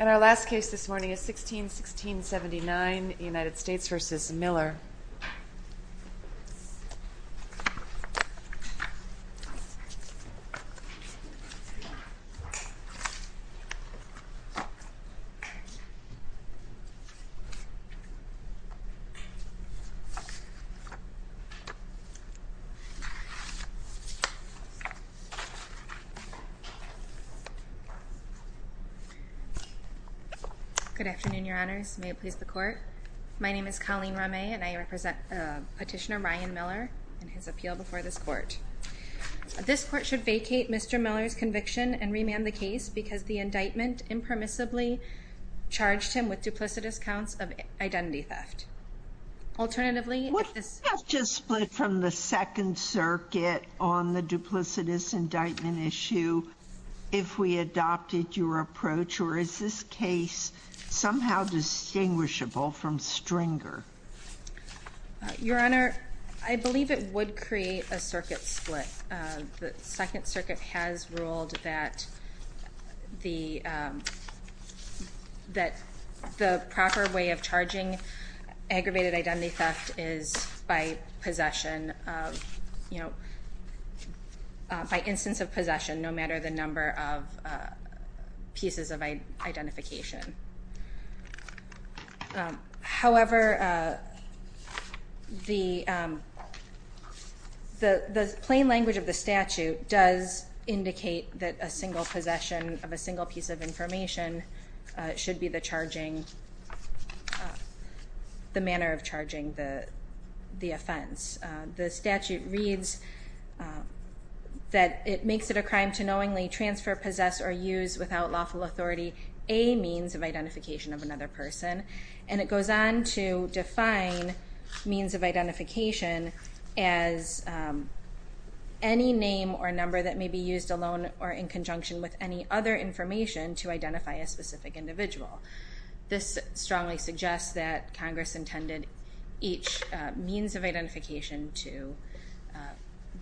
And our last case this morning is 16-1679, United States v. Miller. Good afternoon, Your Honors. May it please the Court. My name is Colleen Ramay and I represent Petitioner Ryan Miller in his appeal before this Court. This Court should vacate Mr. Miller's conviction and remand the case because the indictment impermissibly charged him with duplicitous counts of identity theft. Would theft just split from the Second Circuit on the duplicitous indictment issue if we adopted your approach, or is this case somehow distinguishable from Stringer? Your Honor, I believe it would create a circuit split. The Second Circuit has ruled that the proper way of charging aggravated identity theft is by instance of possession, no matter the number of pieces of identification. However, the plain language of the statute does indicate that a single possession of a single piece of information should be the manner of charging the offense. The statute reads that it makes it a crime to knowingly transfer, possess, or use without lawful authority a means of identification of another person. And it goes on to define means of identification as any name or number that may be used alone or in conjunction with any other information to identify a specific individual. This strongly suggests that Congress intended each means of identification to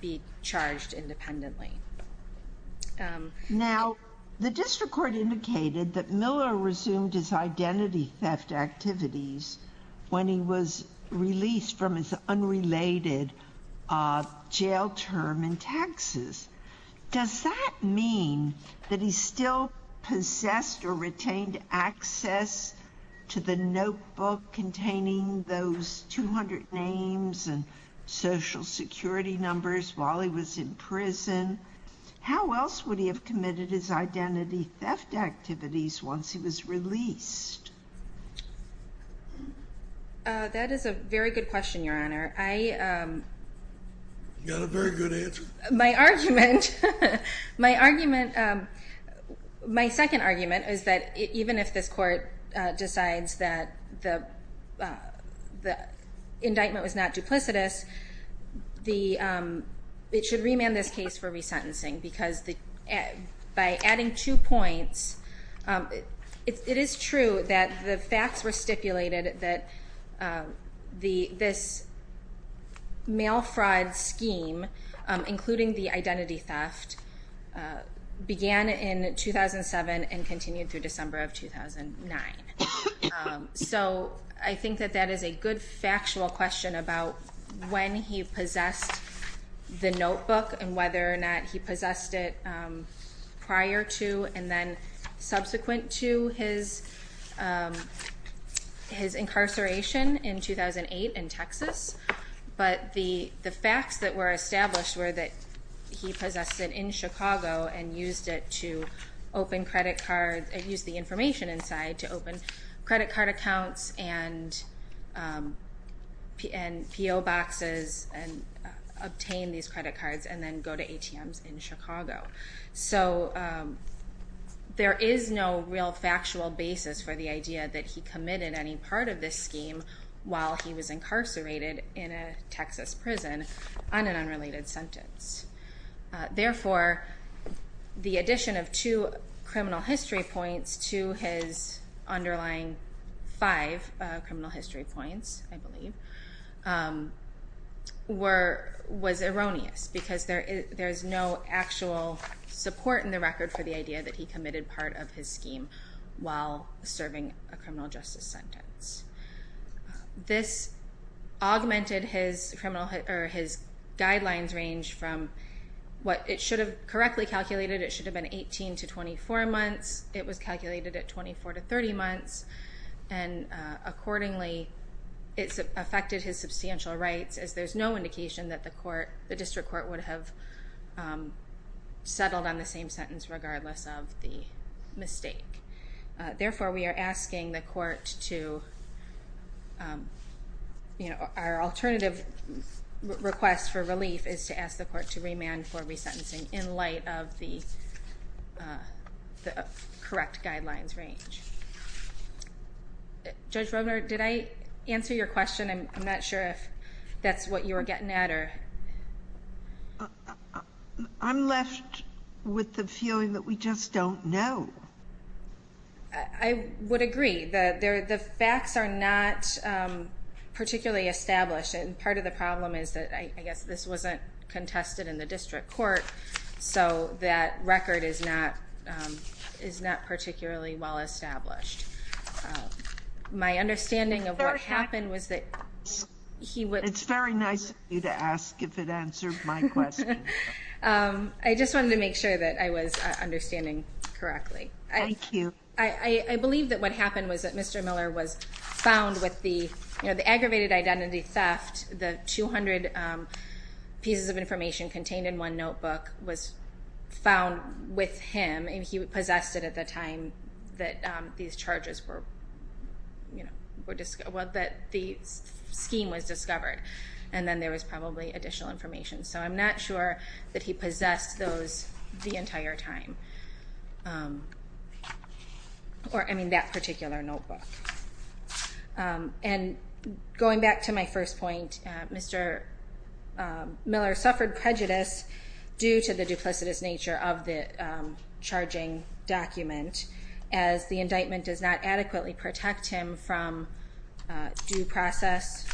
be charged independently. Now, the District Court indicated that Miller resumed his identity theft activities when he was released from his unrelated jail term in Texas. Does that mean that he still possessed or retained access to the notebook containing those 200 names and social security numbers while he was in prison? How else would he have committed his identity theft activities once he was released? That is a very good question, Your Honor. You got a very good answer. My second argument is that even if this Court decides that the indictment was not duplicitous, it should remand this case for resentencing. Because by adding two points, it is true that the facts were stipulated that this mail fraud scheme, including the identity theft, began in 2007 and continued through December of 2009. So I think that that is a good factual question about when he possessed the notebook and whether or not he possessed it prior to and then subsequent to his incarceration in 2008 in Texas. But the facts that were established were that he possessed it in Chicago and used the information inside to open credit card accounts and P.O. boxes and obtain these credit cards and then go to ATMs in Chicago. So there is no real factual basis for the idea that he committed any part of this scheme while he was incarcerated in a Texas prison on an unrelated sentence. Therefore, the addition of two criminal history points to his underlying five criminal history points, I believe, was erroneous because there is no actual support in the record for the idea that he committed part of his scheme while serving a criminal justice sentence. This augmented his guidelines range from what it should have correctly calculated, it should have been 18 to 24 months, it was calculated at 24 to 30 months, and accordingly it affected his substantial rights as there is no indication that the district court would have settled on the same sentence regardless of the mistake. Therefore, we are asking the court to, our alternative request for relief is to ask the court to remand for resentencing in light of the correct guidelines range. Judge Robner, did I answer your question? I'm not sure if that's what you were getting at. I'm left with the feeling that we just don't know. I would agree. The facts are not particularly established and part of the problem is that I guess this wasn't contested in the district court, so that record is not particularly well established. My understanding of what happened was that he was... It's very nice of you to ask if it answered my question. I just wanted to make sure that I was understanding correctly. Thank you. I believe that what happened was that Mr. Miller was found with the aggravated identity theft. The 200 pieces of information contained in one notebook was found with him and he possessed it at the time that these charges were... The scheme was discovered and then there was probably additional information, so I'm not sure that he possessed those the entire time. That particular notebook. Going back to my first point, Mr. Miller suffered prejudice due to the duplicitous nature of the charging document as the indictment does not adequately protect him from due process...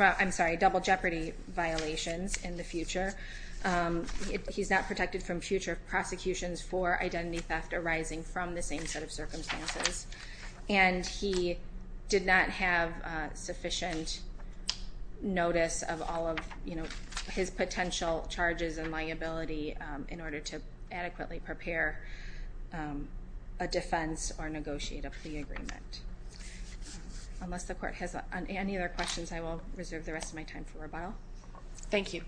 I'm sorry, double jeopardy violations in the future. He's not protected from future prosecutions for identity theft arising from the same set of circumstances. And he did not have sufficient notice of all of his potential charges and liability in order to adequately prepare a defense or negotiate a plea agreement. Unless the court has any other questions, I will reserve the rest of my time for rebuttal. Thank you.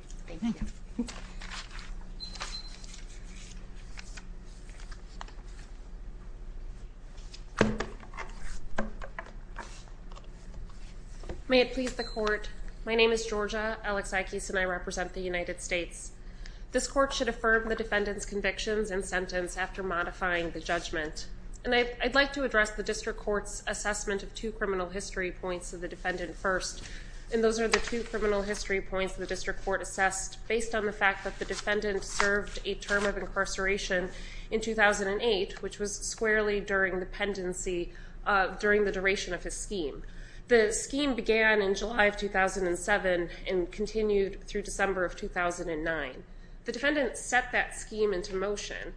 May it please the court. My name is Georgia Alexakis and I represent the United States. This court should affirm the defendant's convictions and sentence after modifying the judgment. And I'd like to address the district court's assessment of two criminal history points of the defendant first. And those are the two criminal history points the district court assessed based on the fact that the defendant served a term of incarceration in 2008, which was squarely during the pendency, during the duration of his scheme. The scheme began in July of 2007 and continued through December of 2009. The defendant set that scheme into motion.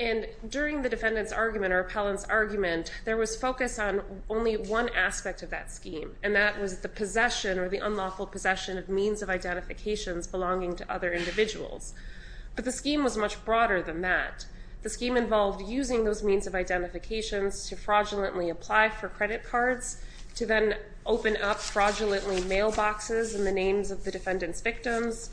And during the defendant's argument or appellant's argument, there was focus on only one aspect of that scheme. And that was the possession or the unlawful possession of means of identifications belonging to other individuals. But the scheme was much broader than that. The scheme involved using those means of identifications to fraudulently apply for credit cards, to then open up fraudulently mailboxes in the names of the defendant's victims,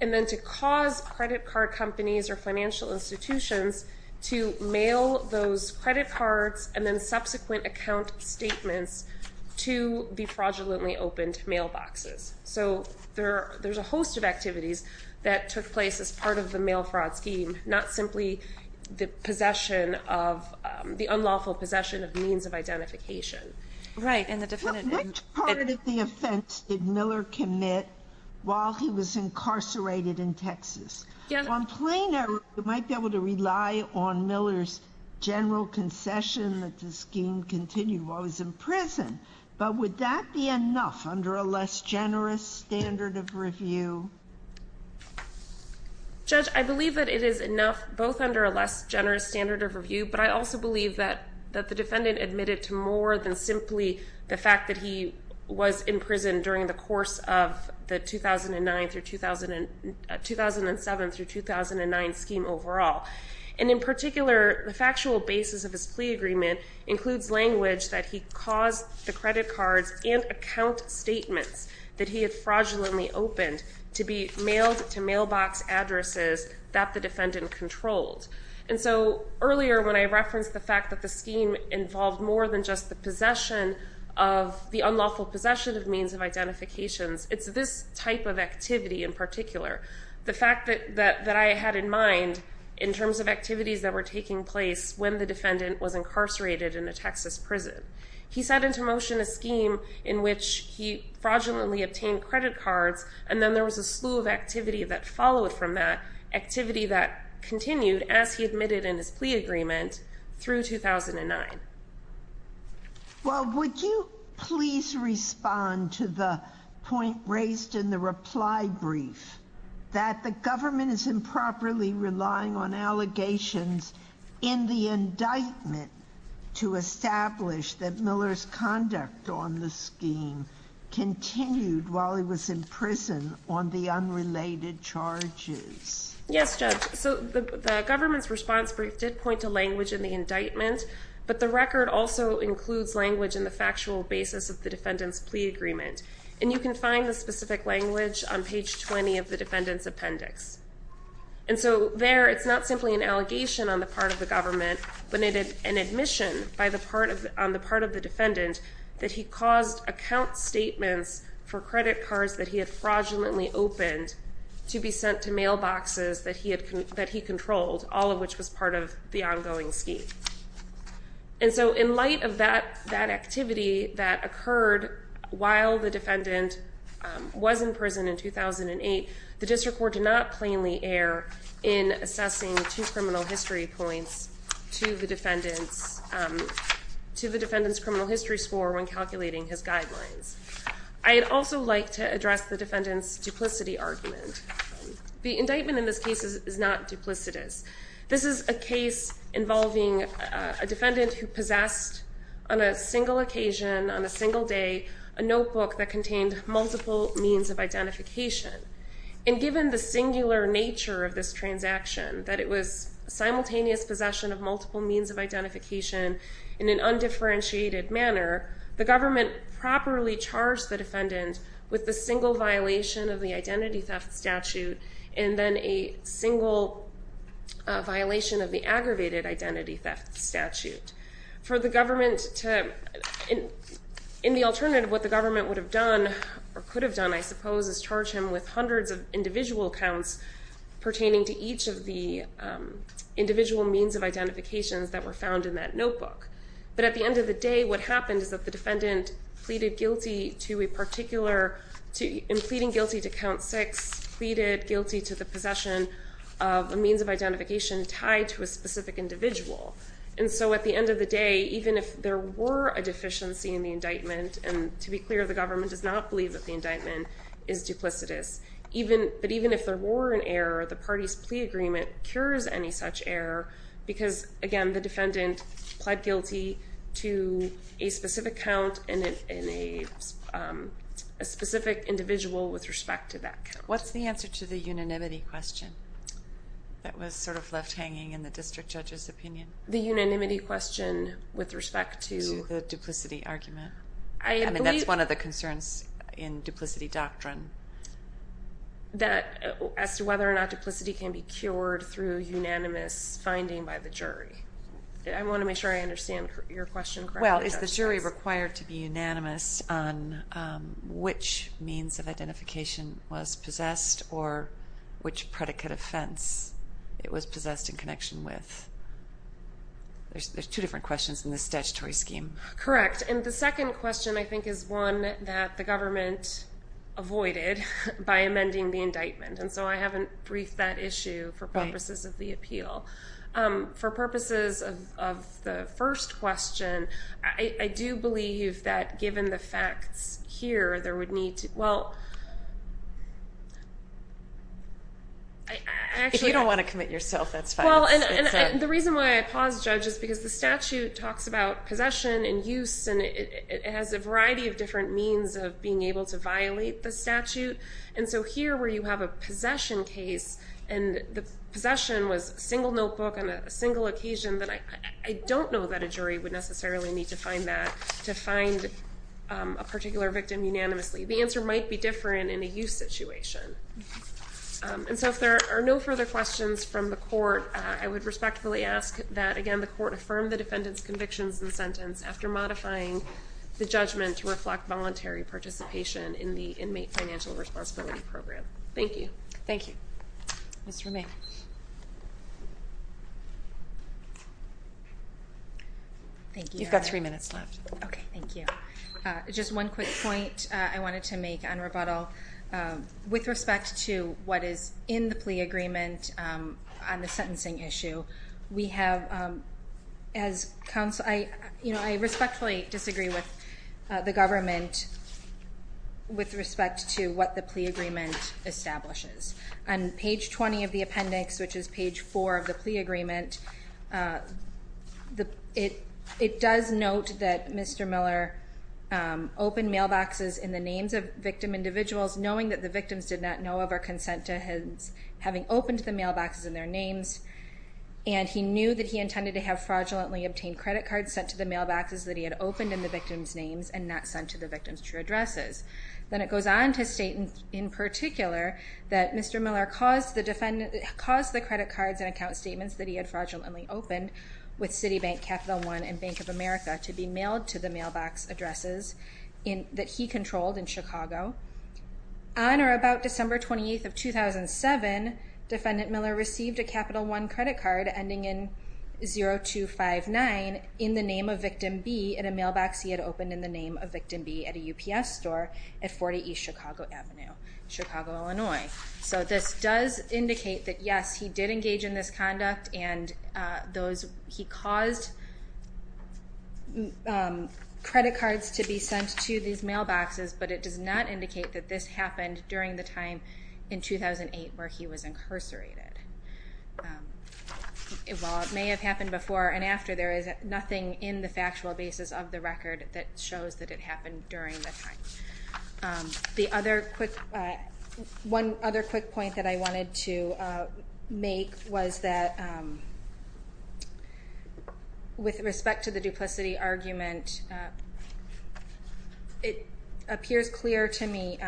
and then to cause credit card companies or financial institutions to mail those credit cards and then subsequent account statements to the fraudulently opened mailboxes. So there's a host of activities that took place as part of the mail fraud scheme, not simply the possession of the unlawful possession of means of identification. Which part of the offense did Miller commit while he was incarcerated in Texas? On plain error, you might be able to rely on Miller's general concession that the scheme continued while he was in prison. But would that be enough under a less generous standard of review? Judge, I believe that it is enough both under a less generous standard of review, but I also believe that the defendant admitted to more than simply the fact that he was in prison during the course of the 2007 through 2009 scheme overall. And in particular, the factual basis of his plea agreement includes language that he caused the credit cards and account statements that he had fraudulently opened to be mailed to mailbox addresses that the defendant controlled. And so earlier when I referenced the fact that the scheme involved more than just the possession of the unlawful possession of means of identifications, it's this type of activity in particular, the fact that I had in mind in terms of activities that were taking place when the defendant was incarcerated in a Texas prison. He set into motion a scheme in which he fraudulently obtained credit cards, and then there was a slew of activity that followed from that activity that continued as he admitted in his plea agreement through 2009. Well, would you please respond to the point raised in the reply brief that the government is improperly relying on allegations in the indictment to establish that Miller's conduct on the scheme continued while he was in prison on the unrelated charges? Yes, Judge. So the government's response brief did point to language in the indictment, but the record also includes language in the factual basis of the defendant's plea agreement. And you can find the specific language on page 20 of the defendant's appendix. And so there, it's not simply an allegation on the part of the government, but an admission on the part of the defendant that he caused account statements for credit cards that he had fraudulently opened to be sent to mailboxes that he controlled, all of which was part of the ongoing scheme. And so in light of that activity that occurred while the defendant was in prison in 2008, the district court did not plainly err in assessing two criminal history points to the defendant's criminal history score when calculating his guidelines. I'd also like to address the defendant's duplicity argument. The indictment in this case is not duplicitous. This is a case involving a defendant who possessed, on a single occasion, on a single day, a notebook that contained multiple means of identification. And given the singular nature of this transaction, that it was simultaneous possession of multiple means of identification in an undifferentiated manner, the government properly charged the defendant with the single violation of the identity theft statute and then a single violation of the aggravated identity theft statute. For the government to, in the alternative, what the government would have done, or could have done, I suppose, is charge him with hundreds of individual counts pertaining to each of the individual means of identifications that were found in that notebook. But at the end of the day, what happened is that the defendant pleaded guilty to a particular, in pleading guilty to count six, pleaded guilty to the possession of a means of identification tied to a specific individual. And so at the end of the day, even if there were a deficiency in the indictment, and to be clear, the government does not believe that the indictment is duplicitous, but even if there were an error, the party's plea agreement cures any such error because, again, the defendant pled guilty to a specific count and a specific individual with respect to that count. What's the answer to the unanimity question that was sort of left hanging in the district judge's opinion? The unanimity question with respect to? To the duplicity argument. I mean, that's one of the concerns in duplicity doctrine. That as to whether or not duplicity can be cured through unanimous finding by the jury. I want to make sure I understand your question correctly. Well, is the jury required to be unanimous on which means of identification was possessed or which predicate offense it was possessed in connection with? There's two different questions in this statutory scheme. Correct. And the second question, I think, is one that the government avoided by amending the indictment, and so I haven't briefed that issue for purposes of the appeal. For purposes of the first question, I do believe that given the facts here, there would need to – well, I actually – If you don't want to commit yourself, that's fine. Well, and the reason why I paused, Judge, is because the statute talks about possession and use, and it has a variety of different means of being able to violate the statute. And so here, where you have a possession case, and the possession was a single notebook on a single occasion, I don't know that a jury would necessarily need to find that to find a particular victim unanimously. The answer might be different in a use situation. And so if there are no further questions from the court, I would respectfully ask that, again, the court affirm the defendant's convictions in the sentence after modifying the judgment to reflect voluntary participation in the inmate financial responsibility program. Thank you. Thank you. Ms. Romijn. You've got three minutes left. Okay. Thank you. Just one quick point I wanted to make on rebuttal. With respect to what is in the plea agreement on the sentencing issue, we have – as counsel – I respectfully disagree with the government with respect to what the plea agreement establishes. On page 20 of the appendix, which is page 4 of the plea agreement, it does note that Mr. Miller opened mailboxes in the names of victim individuals, knowing that the victims did not know of or consent to his having opened the mailboxes in their names, and he knew that he intended to have fraudulently obtained credit cards sent to the mailboxes that he had opened in the victims' names and not sent to the victims' true addresses. Then it goes on to state in particular that Mr. Miller caused the credit cards and account statements that he had fraudulently opened with Citibank, Capital One, and Bank of America to be mailed to the mailbox addresses that he controlled in Chicago. On or about December 28th of 2007, Defendant Miller received a Capital One credit card ending in 0259 in the name of victim B in a mailbox he had opened in the name of victim B at a UPS store at 40 East Chicago Avenue, Chicago, Illinois. So this does indicate that, yes, he did engage in this conduct and those – he caused credit cards to be sent to these mailboxes, but it does not indicate that this happened during the time in 2008 where he was incarcerated. While it may have happened before and after, there is nothing in the factual basis of the record that shows that it happened during the time. The other quick – one other quick point that I wanted to make was that with respect to the duplicity argument, it appears clear to me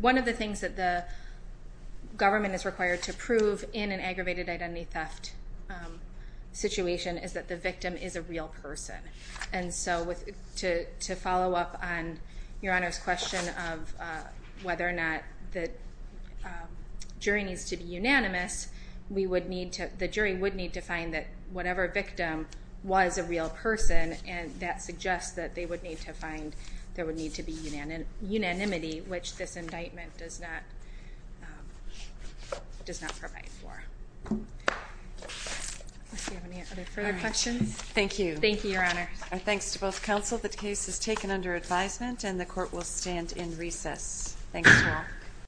one of the things that the government is required to prove in an aggravated identity theft situation is that the victim is a real person. And so to follow up on Your Honor's question of whether or not the jury needs to be unanimous, we would need to – the jury would need to find that whatever victim was a real person and that suggests that they would need to find – there would need to be unanimity, which this indictment does not provide for. Do you have any other further questions? Thank you. Thank you, Your Honor. Thanks to both counsel. The case is taken under advisement and the court will stand in recess. Thanks to all.